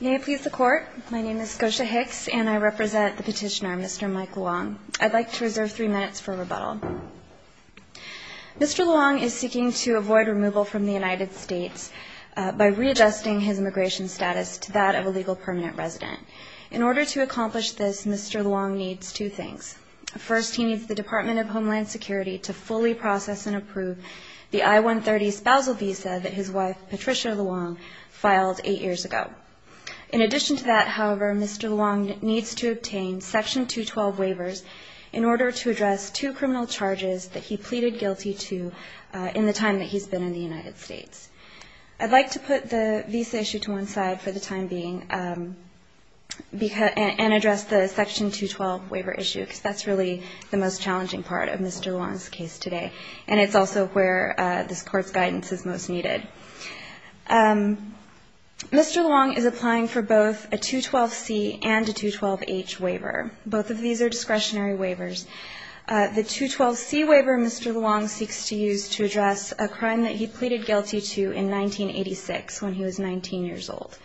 May I please the court? My name is Gosha Hicks and I represent the petitioner, Mr. Mike Luong. I'd like to reserve three minutes for rebuttal. Mr. Luong is seeking to avoid removal from the United States by readjusting his immigration status to that of a legal permanent resident. In order to accomplish this, Mr. Luong needs two things. First, he needs the Department of Homeland Security to fully process and approve the I-130 spousal visa that his wife Patricia Luong filed eight years ago. In addition to that, however, Mr. Luong needs to obtain Section 212 waivers in order to address two criminal charges that he pleaded guilty to in the time that he's been in the United States. I'd like to put the visa issue to one side for the time being and address the Section 212 waiver issue because that's really the most challenging part of Mr. Luong's case today. And it's also where this court's guidance is most needed. Mr. Luong is applying for both a 212C and a 212H waiver. Both of these are discretionary waivers. The 212C waiver Mr. Luong seeks to use to address a crime that he pleaded guilty to in 1986 when he was 19 years old.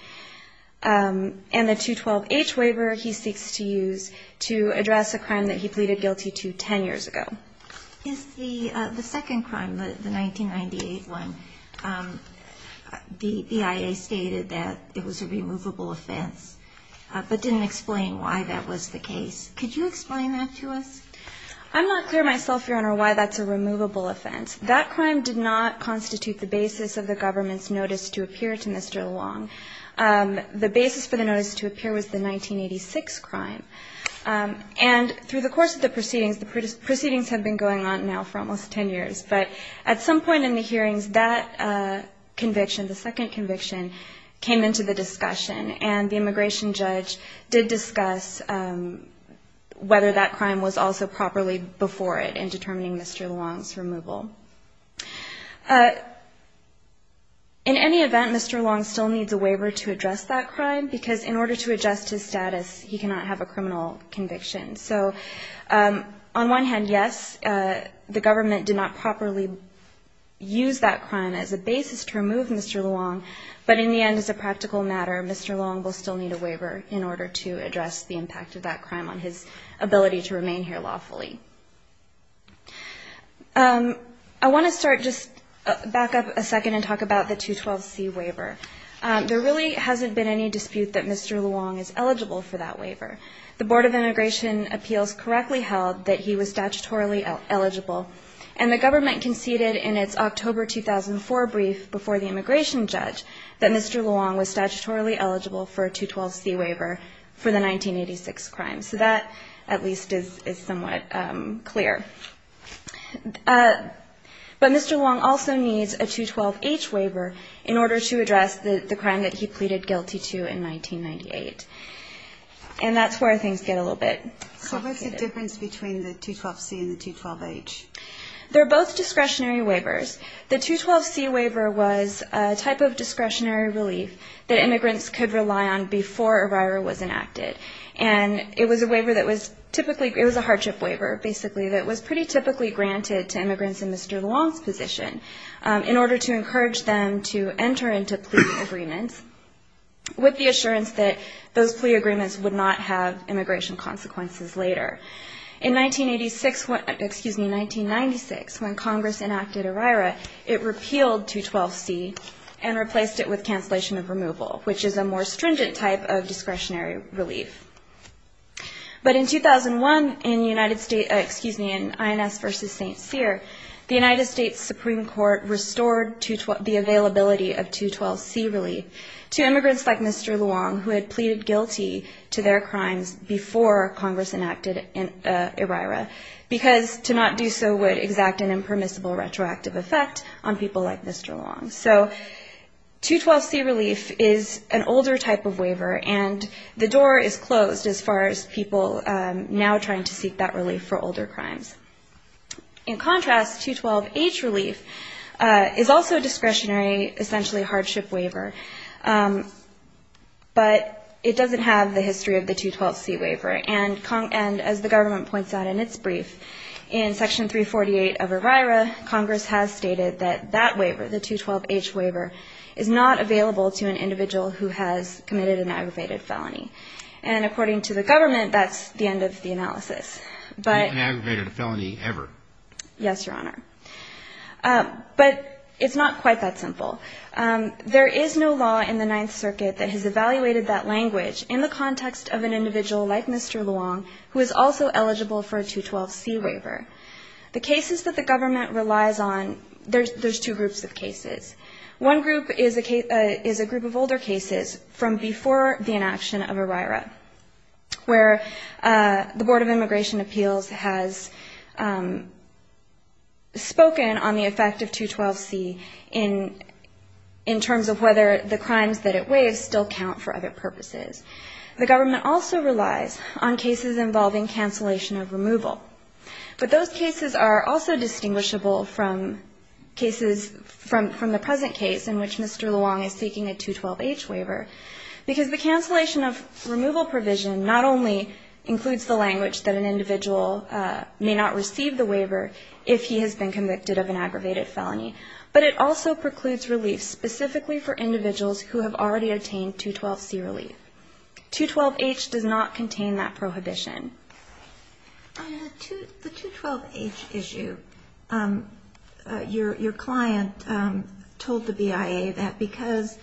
And the 212H waiver he seeks to use to address a crime that he pleaded guilty to 10 years ago. Is the second crime, the 1998 one, the IA stated that it was a removable offense but didn't explain why that was the case. Could you explain that to us? I'm not clear myself, Your Honor, why that's a removable offense. That crime did not constitute the basis of the government's notice to appear to Mr. Luong. The basis for the notice to appear was the 1986 crime. And through the course of the proceedings, the proceedings have been going on now for almost 10 years. But at some point in the hearings that conviction, the second conviction, came into the discussion. And the immigration judge did discuss whether that crime was also properly before it in determining Mr. Luong's removal. In any event, Mr. Luong still needs a waiver to address that crime because in order to adjust his status, he cannot have a criminal conviction. So on one hand, yes, the government did not properly use that crime as a basis to remove Mr. Luong. But in the end, as a practical matter, Mr. Luong will still need a waiver in order to address the impact of that crime on his ability to remain here lawfully. I want to start just back up a second and talk about the 212C waiver. There really hasn't been any dispute that Mr. Luong is eligible for that waiver. The Board of Immigration Appeals correctly held that he was statutorily eligible. And the government conceded in its October 2004 brief before the immigration judge that Mr. Luong was statutorily eligible for a 212C waiver for the 1986 crime. So that, at least, is somewhat clear. But Mr. Luong also needs a 212H waiver in order to address the crime that he pleaded guilty to in 1998. And that's where things get a little bit complicated. So what's the difference between the 212C and the 212H? They're both discretionary waivers. The 212C waiver was a type of discretionary relief that immigrants could rely on before a riot was enacted. And it was a waiver that was typically, it was a hardship waiver, basically, that was pretty typically granted to immigrants in Mr. Luong's position in order to encourage them to enter into plea agreements with the assurance that those plea agreements would not have immigration consequences later. In 1986, excuse me, 1996, when Congress enacted ERIRA, it repealed 212C and replaced it with cancellation of removal, which is a more stringent type of discretionary relief. But in 2001, in the United States, excuse me, in INS v. St. Cyr, the United States Supreme Court restored the availability of 212C relief to immigrants like Mr. Luong, who had pleaded guilty to their crimes before Congress enacted ERIRA, because to not do so would exact an impermissible retroactive effect on people like Mr. Luong. So 212C relief is an older type of waiver, and the door is closed as far as people now trying to seek that relief for older crimes. In contrast, 212H relief is also a discretionary, essentially hardship waiver, but it doesn't have the history of the 212C waiver. And as the government points out in its brief, in Section 348 of ERIRA, Congress has stated that that waiver, the 212H waiver, is not available to an individual who has committed an aggravated felony. And according to the government, that's the end of the analysis. But ‑‑ You haven't committed a felony ever. Yes, Your Honor. But it's not quite that simple. There is no law in the Ninth Circuit that has evaluated that language in the context of an individual like Mr. Luong, who is also eligible for a 212C waiver. The cases that the government relies on, there's two groups of cases. One group is a group of older cases from before the inaction of ERIRA, where the Board of Immigration Appeals has spoken on the effect of 212C in terms of whether the crimes that it waives still count for other purposes. The government also relies on cases involving cancellation of removal. But those cases are also distinguishable from cases from the present case in which Mr. Luong is seeking a 212H waiver, because the cancellation of removal provision not only includes the language that an individual may not receive the waiver if he has been convicted of an aggravated felony, but it also precludes relief specifically for individuals who have already obtained 212C relief. 212H does not contain that prohibition. The 212H issue, your client told the BIA that because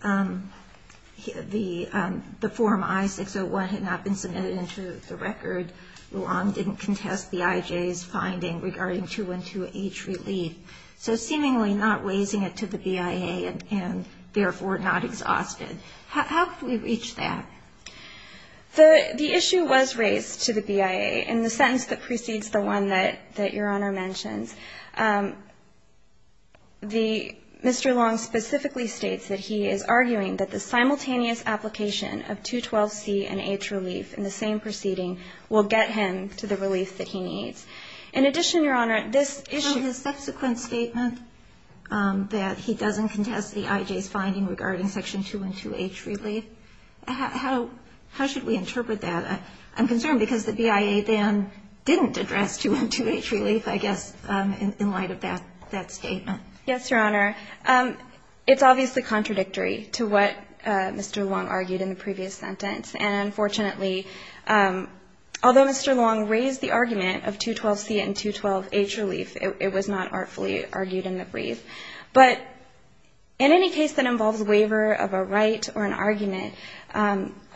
the form I-601 had not been submitted into the record, Luong didn't contest the IJ's finding regarding 212H relief, so seemingly not raising it to the BIA and therefore not exhausted. How could we reach that? The issue was raised to the BIA in the sentence that precedes the one that your Honor mentions. Mr. Luong specifically states that he is arguing that the simultaneous application of 212C and H relief in the same proceeding will get him to the relief that he needs. In addition, your Honor, this issue — that he doesn't contest the IJ's finding regarding section 212H relief. How should we interpret that? I'm concerned because the BIA then didn't address 212H relief, I guess, in light of that statement. Yes, your Honor. It's obviously contradictory to what Mr. Luong argued in the previous sentence, and unfortunately, although Mr. Luong raised the argument of 212C and 212H relief, it was not artfully argued in the brief. But in any case that involves waiver of a right or an argument,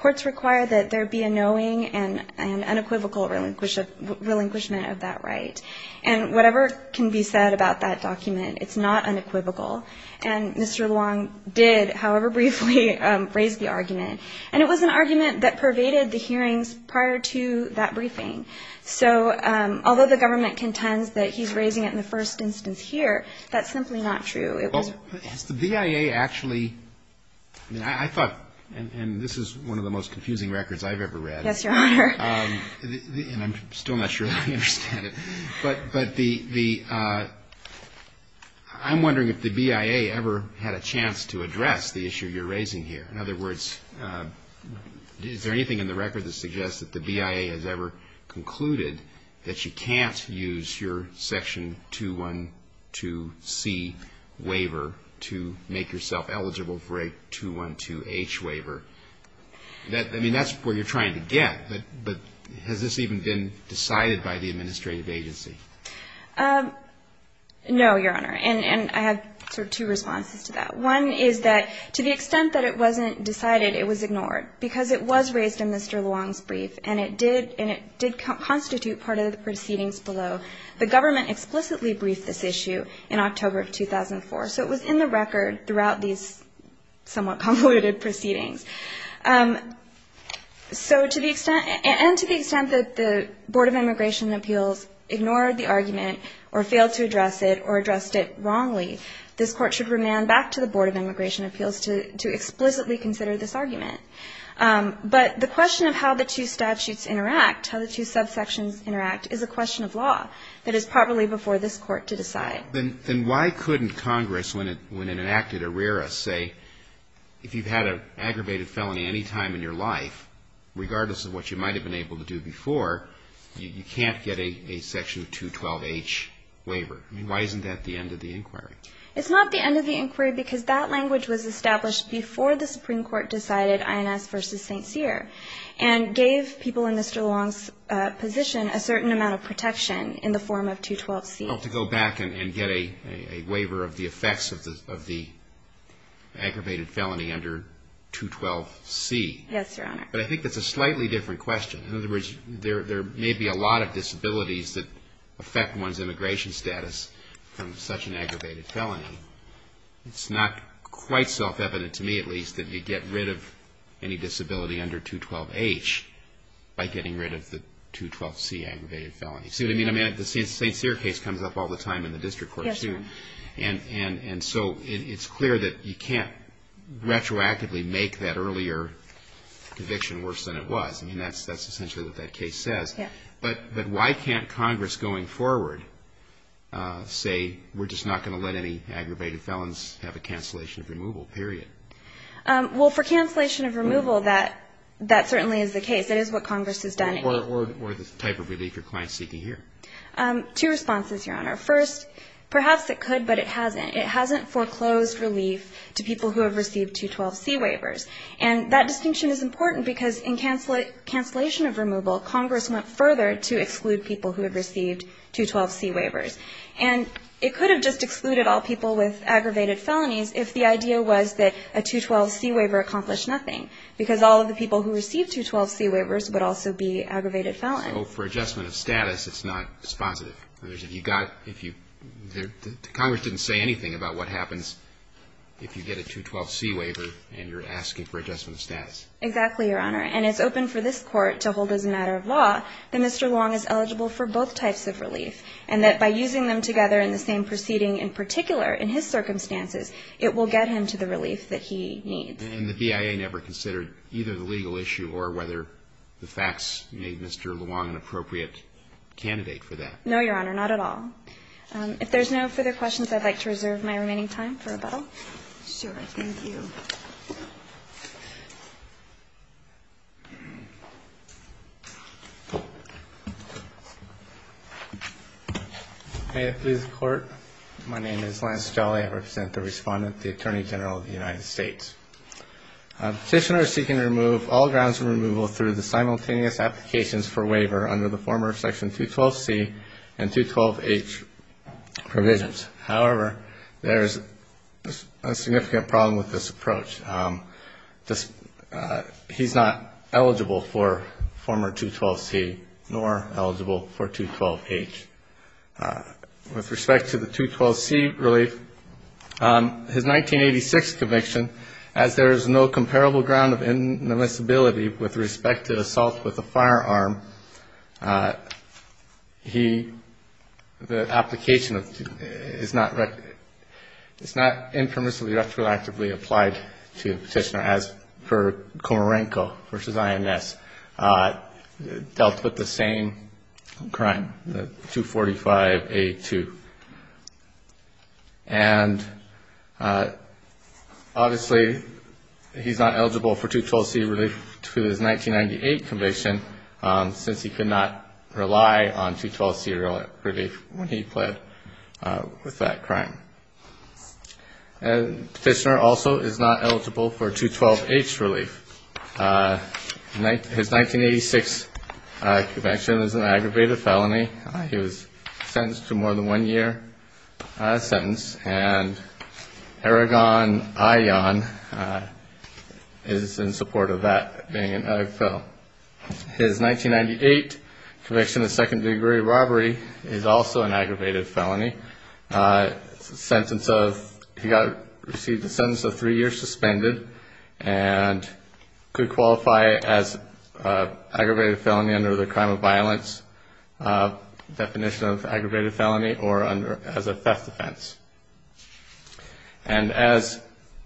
courts require that there be a knowing and unequivocal relinquishment of that right. And whatever can be said about that document, it's not unequivocal. And Mr. Luong did, however briefly, raise the argument. And it was an argument that pervaded the hearings prior to that briefing. So although the government contends that he's raising it in the first instance here, that's simply not true. Is the BIA actually — I thought — and this is one of the most confusing records I've ever read. Yes, your Honor. And I'm still not sure that I understand it. But the — I'm wondering if the BIA ever had a chance to address the issue you're raising here. In other words, is there anything in the record that suggests that the BIA has ever concluded that you can't use your Section 212C waiver to make yourself eligible for a 212H waiver? I mean, that's where you're trying to get. But has this even been decided by the administrative agency? No, your Honor. And I have sort of two responses to that. One is that to the extent that it wasn't decided, it was ignored because it was raised in Mr. Luong's brief and it did constitute part of the proceedings below. The government explicitly briefed this issue in October of 2004. So it was in the record throughout these somewhat convoluted proceedings. So to the extent — and to the extent that the Board of Immigration and Appeals ignored the argument or failed to address it or addressed it wrongly, this Court should remand back to the Board of Immigration and Appeals to explicitly consider this argument. But the question of how the two statutes interact, how the two subsections interact, is a question of law that is probably before this Court to decide. Then why couldn't Congress, when it enacted ARERA, say, if you've had an aggravated felony any time in your life, regardless of what you might have been able to do before, you can't get a section of 212H waiver? I mean, why isn't that the end of the inquiry? It's not the end of the inquiry because that language was established before the Supreme Court decided INS v. St. Cyr and gave people in Mr. Luong's position a certain amount of protection in the form of 212C. Well, to go back and get a waiver of the effects of the aggravated felony under 212C. Yes, Your Honor. But I think that's a slightly different question. In other words, there may be a lot of disabilities that affect one's immigration status from such an aggravated felony. It's not quite self-evident to me, at least, that you get rid of any disability under 212H by getting rid of the 212C aggravated felony. See what I mean? I mean, the St. Cyr case comes up all the time in the District Court. Yes, Your Honor. And so it's clear that you can't retroactively make that earlier conviction worse than it was. I mean, that's essentially what that case says. Yes. But why can't Congress going forward say we're just not going to let any aggravated felons have a cancellation of removal, period? Well, for cancellation of removal, that certainly is the case. That is what Congress has done. Or the type of relief your client is seeking here. Two responses, Your Honor. First, perhaps it could, but it hasn't. It hasn't foreclosed relief to people who have received 212C waivers. And that distinction is important because in cancellation of removal, Congress went further to exclude people who had received 212C waivers. And it could have just excluded all people with aggravated felonies if the idea was that a 212C waiver accomplished nothing, because all of the people who received 212C waivers would also be aggravated felons. So for adjustment of status, it's not responsive. The Congress didn't say anything about what happens if you get a 212C waiver and you're asking for adjustment of status. Exactly, Your Honor. And it's open for this Court to hold as a matter of law that Mr. Luong is eligible for both types of relief, and that by using them together in the same proceeding in particular in his circumstances, it will get him to the relief that he needs. And the BIA never considered either the legal issue or whether the facts made Mr. Luong an appropriate candidate for that. No, Your Honor, not at all. If there's no further questions, I'd like to reserve my remaining time for rebuttal. Sure. Thank you. May it please the Court. My name is Lance Jolly. I represent the Respondent, the Attorney General of the United States. Petitioners seeking to remove all grounds of removal through the simultaneous applications for waiver under the former Section 212C and 212H provisions. However, there is a significant problem with this approach. He's not eligible for former 212C nor eligible for 212H. With respect to the 212C relief, his 1986 conviction, as there is no comparable ground of inadmissibility with respect to assault with a firearm, the application is not impermissibly retroactively applied to the petitioner, as per Komarenko v. INS, dealt with the same crime, the 245A2. And, obviously, he's not eligible for 212C relief to his 1998 conviction, since he could not rely on 212C relief when he pled with that crime. And the petitioner also is not eligible for 212H relief. His 1986 conviction is an aggravated felony. He was sentenced to more than one year sentence, and Aragon Ion is in support of that being an aggravated felony. His 1998 conviction of second-degree robbery is also an aggravated felony. He received a sentence of three years suspended, and could qualify as aggravated felony under the crime of violence definition of aggravated felony, or as a theft offense. And as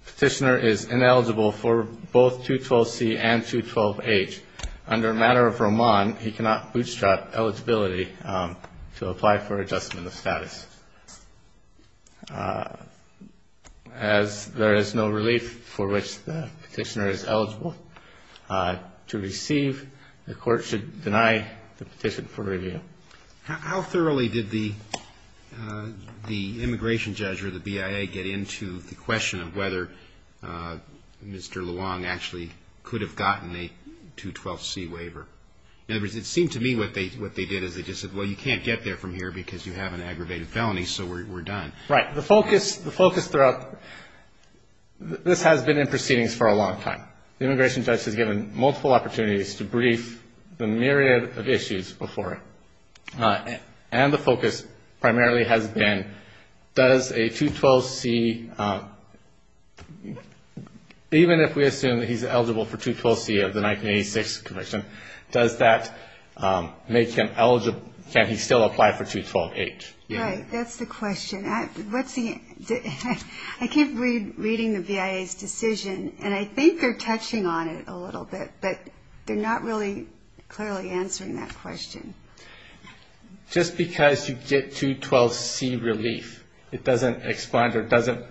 petitioner is ineligible for both 212C and 212H, under a matter of Roman, he cannot bootstrap eligibility to apply for adjustment of status. As there is no relief for which the petitioner is eligible to receive, the Court should deny the petition for review. Roberts. How thoroughly did the immigration judge or the BIA get into the question of whether Mr. Luong actually could have gotten a 212C waiver? In other words, it seemed to me what they did is they just said, well, you can't get there from here because you have an aggravated felony, so we're done. Right. The focus throughout, this has been in proceedings for a long time. The immigration judge has given multiple opportunities to brief the myriad of issues before it. And the focus primarily has been, does a 212C, even if we assume that he's eligible for 212C of the 1986 conviction, does that make him eligible, can he still apply for 212H? Right. That's the question. I keep reading the BIA's decision, and I think they're touching on it a little bit, but they're not really clearly answering that question. Just because you get 212C relief, it doesn't expand or doesn't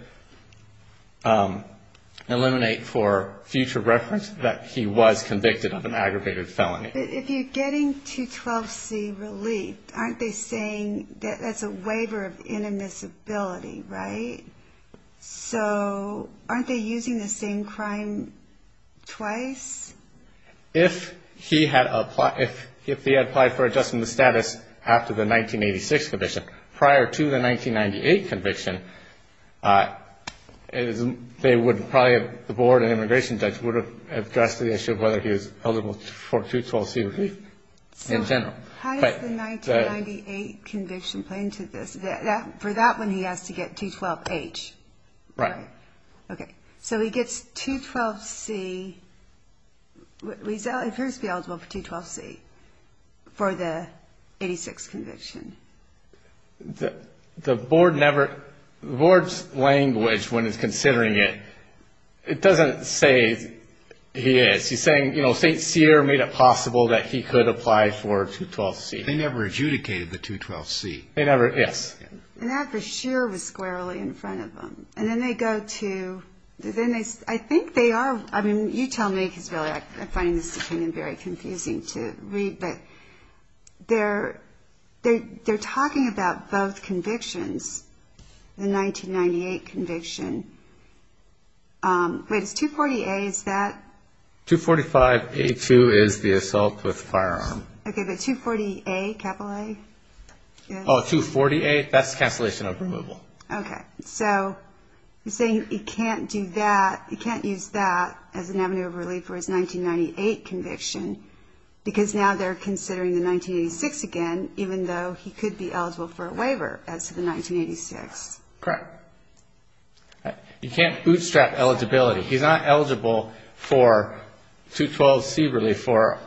eliminate for future reference that he was convicted of an aggravated felony. But if you're getting 212C relief, aren't they saying that's a waiver of inadmissibility, right? So aren't they using the same crime twice? If he had applied for adjustment of status after the 1986 conviction, prior to the 1998 conviction, they would probably, the board and immigration judge would have addressed the issue of whether he was eligible for 212C relief in general. How does the 1998 conviction play into this? For that one he has to get 212H. Right. So he gets 212C, appears to be eligible for 212C for the 1986 conviction. The board never, the board's language when it's considering it, it doesn't say he is. He's saying St. Cyr made it possible that he could apply for 212C. They never adjudicated the 212C. They never, yes. And that for sure was squarely in front of them. And then they go to, I think they are, you tell me, because I'm finding this opinion very confusing to read, but they're talking about both convictions, the 1998 conviction. Wait, is 240A, is that? Oh, 240A, that's cancellation of removal. Okay. So he's saying he can't do that, he can't use that as an avenue of relief for his 1998 conviction, because now they're considering the 1986 again, even though he could be eligible for a waiver as to the 1986. Correct. You can't bootstrap eligibility. He's not eligible for 212C relief for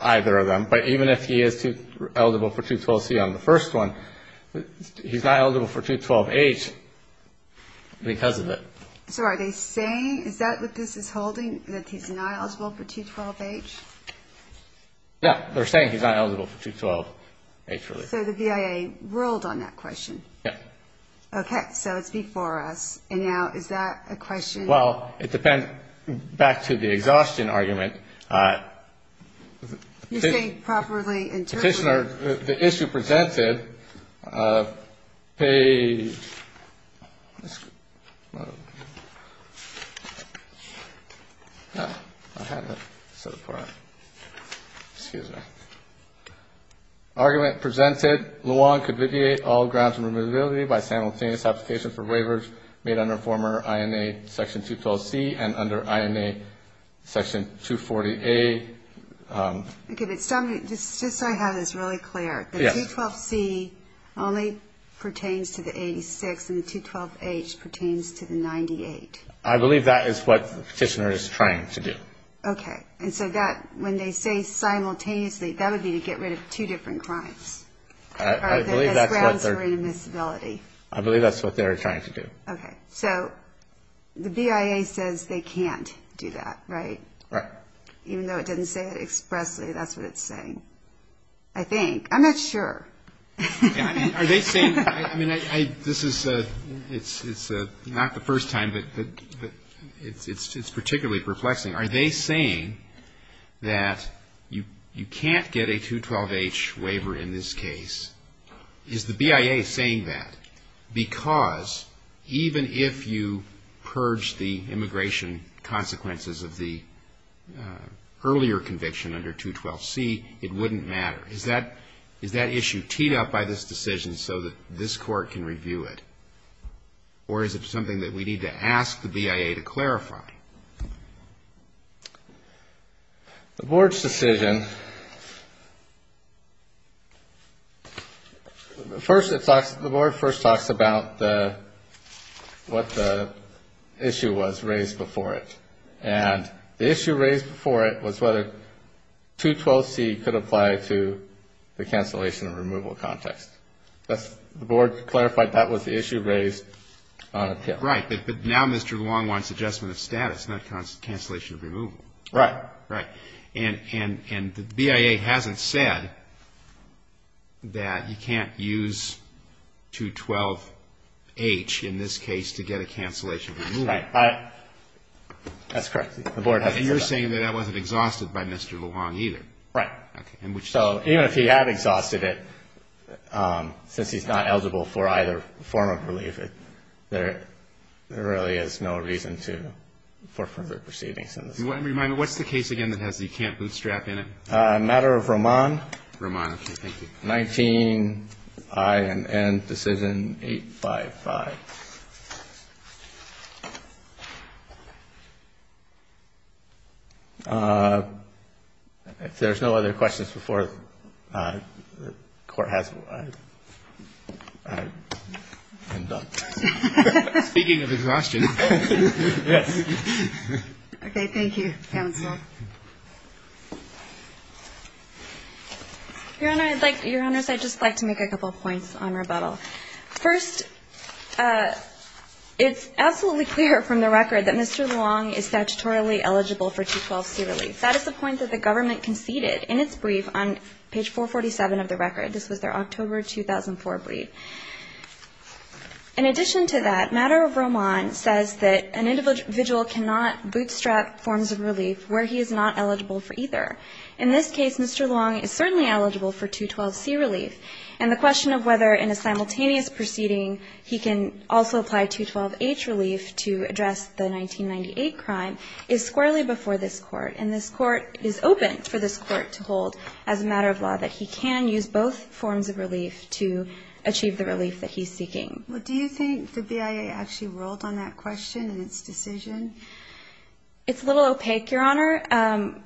either of them. But even if he is eligible for 212C on the first one, he's not eligible for 212H because of it. So are they saying, is that what this is holding, that he's not eligible for 212H? No, they're saying he's not eligible for 212H relief. So the BIA ruled on that question. Yeah. Okay, so it's before us, and now is that a question? Well, it depends, back to the exhaustion argument. You're saying properly interpret. Petitioner, the issue presented, page, argument presented, Luan could viviate all grounds of removability by simultaneous application for waivers made under former INA section 212C and under INA section 240A. Okay, but just so I have this really clear. The 212C only pertains to the 86, and the 212H pertains to the 98. I believe that is what the petitioner is trying to do. Okay, and so when they say simultaneously, that would be to get rid of two different crimes. I believe that's what they're trying to do. Okay, so the BIA says they can't do that, right? Even though it doesn't say it expressly, that's what it's saying, I think. I'm not sure. It's not the first time, but it's particularly perplexing. Are they saying that you can't get a 212H waiver in this case? Is the BIA saying that because even if you purged the immigration consequences of the earlier conviction under 212C, it wouldn't matter? Is that issue teed up by this decision so that this Court can review it? Or is it something that we need to ask the BIA to clarify? The Board's decision, first it talks, the Board first talks about what the issue was raised before it. And the issue raised before it was whether 212C could apply to the cancellation and removal context. The Board clarified that was the issue raised on appeal. Right, but now Mr. Luong wants adjustment of status, not cancellation of removal. Right. And the BIA hasn't said that you can't use 212H in this case to get a cancellation of removal. That's correct. And you're saying that that wasn't exhausted by Mr. Luong either. Right. Even if he had exhausted it, since he's not eligible for either form of relief, there really is no reason for further proceedings. Remind me, what's the case again that has the can't bootstrap in it? A matter of remand. If there's no other questions before the Court has one, I'm done. Speaking of exhaustion. Okay, thank you, counsel. Your Honors, I'd just like to make a couple points on rebuttal. First, it's absolutely clear from the record that Mr. Luong is statutorily eligible for 212C relief. That is the point that the government conceded in its brief on page 447 of the record. This was their October 2004 brief. In addition to that, matter of remand says that an individual cannot bootstrap forms of relief where he is not eligible for either. In this case, Mr. Luong is certainly eligible for 212C relief, and the question of whether in a simultaneous proceeding he can also apply 212H relief to address the 1998 crime is squarely before this Court. And this Court is open for this Court to hold as a matter of law that he can use both forms of relief to achieve the relief that he's seeking. Well, do you think the BIA actually rolled on that question and its decision? It's a little opaque, Your Honor.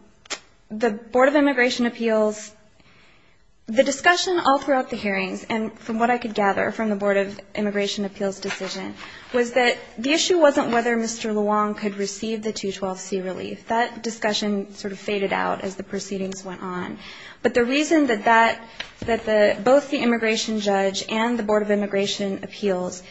The Board of Immigration Appeals, the discussion all throughout the hearings, and from what I could gather from the Board of Immigration Appeals decision, was that the issue wasn't whether Mr. Luong could receive the 212C relief. That discussion sort of faded out as the proceedings went on. But the reason that both the immigration judge and the Board of Immigration Appeals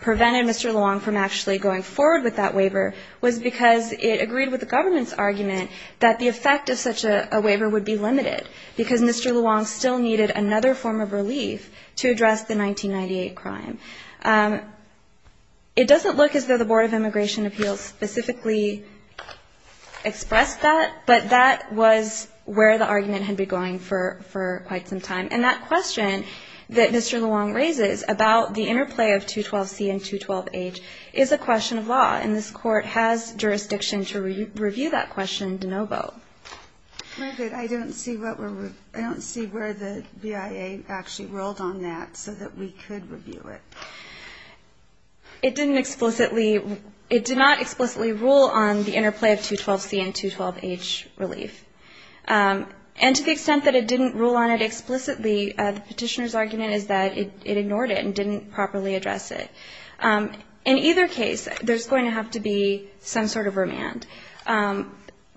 prevented Mr. Luong from actually going forward with that waiver was because it agreed with the government's argument that the effect of such a waiver would be limited, because Mr. Luong still needed another form of relief to address the 1998 crime. It doesn't look as though the Board of Immigration Appeals specifically expressed that, but that was where the argument had been going for quite some time. And that question that Mr. Luong raises about the interplay of 212C and 212H is a question of law. And this Court has jurisdiction to review that question in de novo. I don't see where the BIA actually ruled on that, so that we could review it. It did not explicitly rule on the interplay of 212C and 212H relief. And to the extent that it didn't rule on it explicitly, the Petitioner's argument is that it ignored it and didn't properly address it. In either case, there's going to have to be some sort of remand.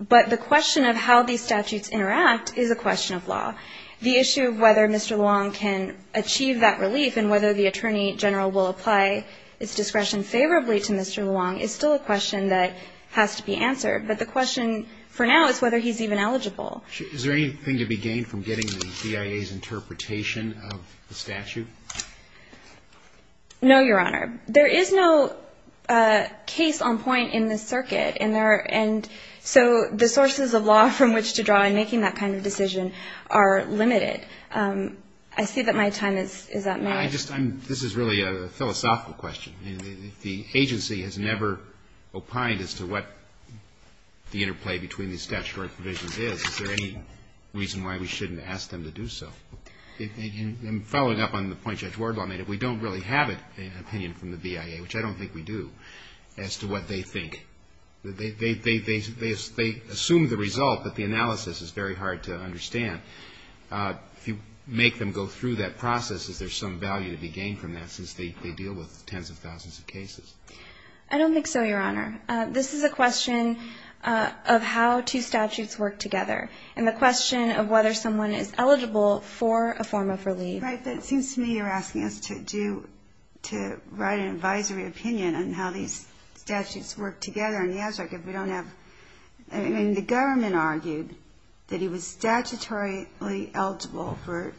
But the question of how these statutes interact is a question of law. The issue of whether Mr. Luong can achieve that relief and whether the Attorney General will apply his discretion favorably to Mr. Luong is still a question that has to be answered. But the question for now is whether he's even eligible. Roberts. Is there anything to be gained from getting the BIA's interpretation of the statute? No, Your Honor. There is no case on point in this circuit, and so the sources of law from which to draw in making that kind of decision are limited. I see that my time is up. This is really a philosophical question. The agency has never opined as to what the interplay between these statutory provisions is. Is there any reason why we shouldn't ask them to do so? And following up on the point Judge Wardlaw made, we don't really have an opinion from the BIA, which I don't think we do, as to what they think. They assume the result, but the analysis is very hard to understand. If you make them go through that process, is there some value to be gained from that, since they deal with tens of thousands of cases? I don't think so, Your Honor. This is a question of how two statutes work together, and the question of whether someone is eligible for a form of relief. Right, but it seems to me you're asking us to write an advisory opinion on how these statutes work together. And the government argued that he was statutorily eligible for a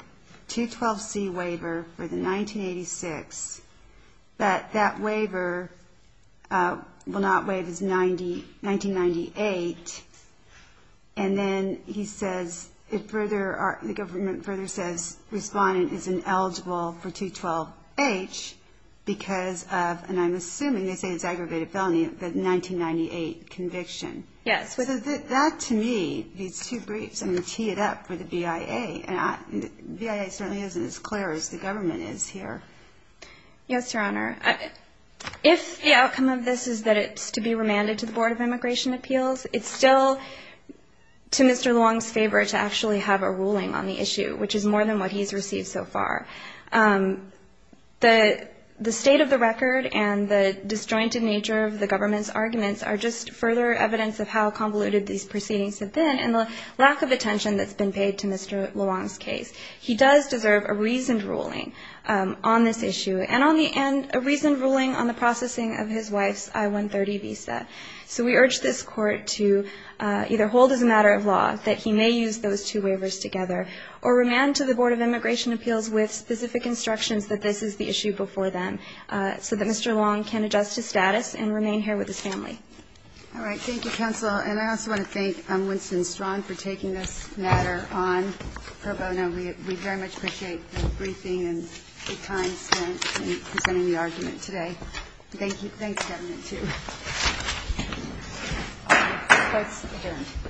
212C waiver for the 1986, but that waiver was not eligible for a form of relief. And then he says, the government further says, respondent is ineligible for 212H because of, and I'm assuming they say it's aggravated felony, but 1998 conviction. Yes. That, to me, these two briefs, I'm going to tee it up with the BIA, and the BIA certainly isn't as clear as the government is here. I guess the outcome of this is that it's to be remanded to the Board of Immigration Appeals. It's still to Mr. Luong's favor to actually have a ruling on the issue, which is more than what he's received so far. The state of the record and the disjointed nature of the government's arguments are just further evidence of how convoluted these proceedings have been, and the lack of attention that's been paid to Mr. Luong's case. He does deserve a reasoned ruling on this issue, and on the end, a reasoned ruling on the processing of his wife's I-130 visa. So we urge this Court to either hold as a matter of law that he may use those two waivers together, or remand to the Board of Immigration Appeals with specific instructions that this is the issue before them, so that Mr. Luong can adjust his status and remain here with his family. All right. Thank you, counsel, and I also want to thank Winston Strawn for taking this matter on. We very much appreciate the briefing and the time spent in presenting the argument today. Thank you.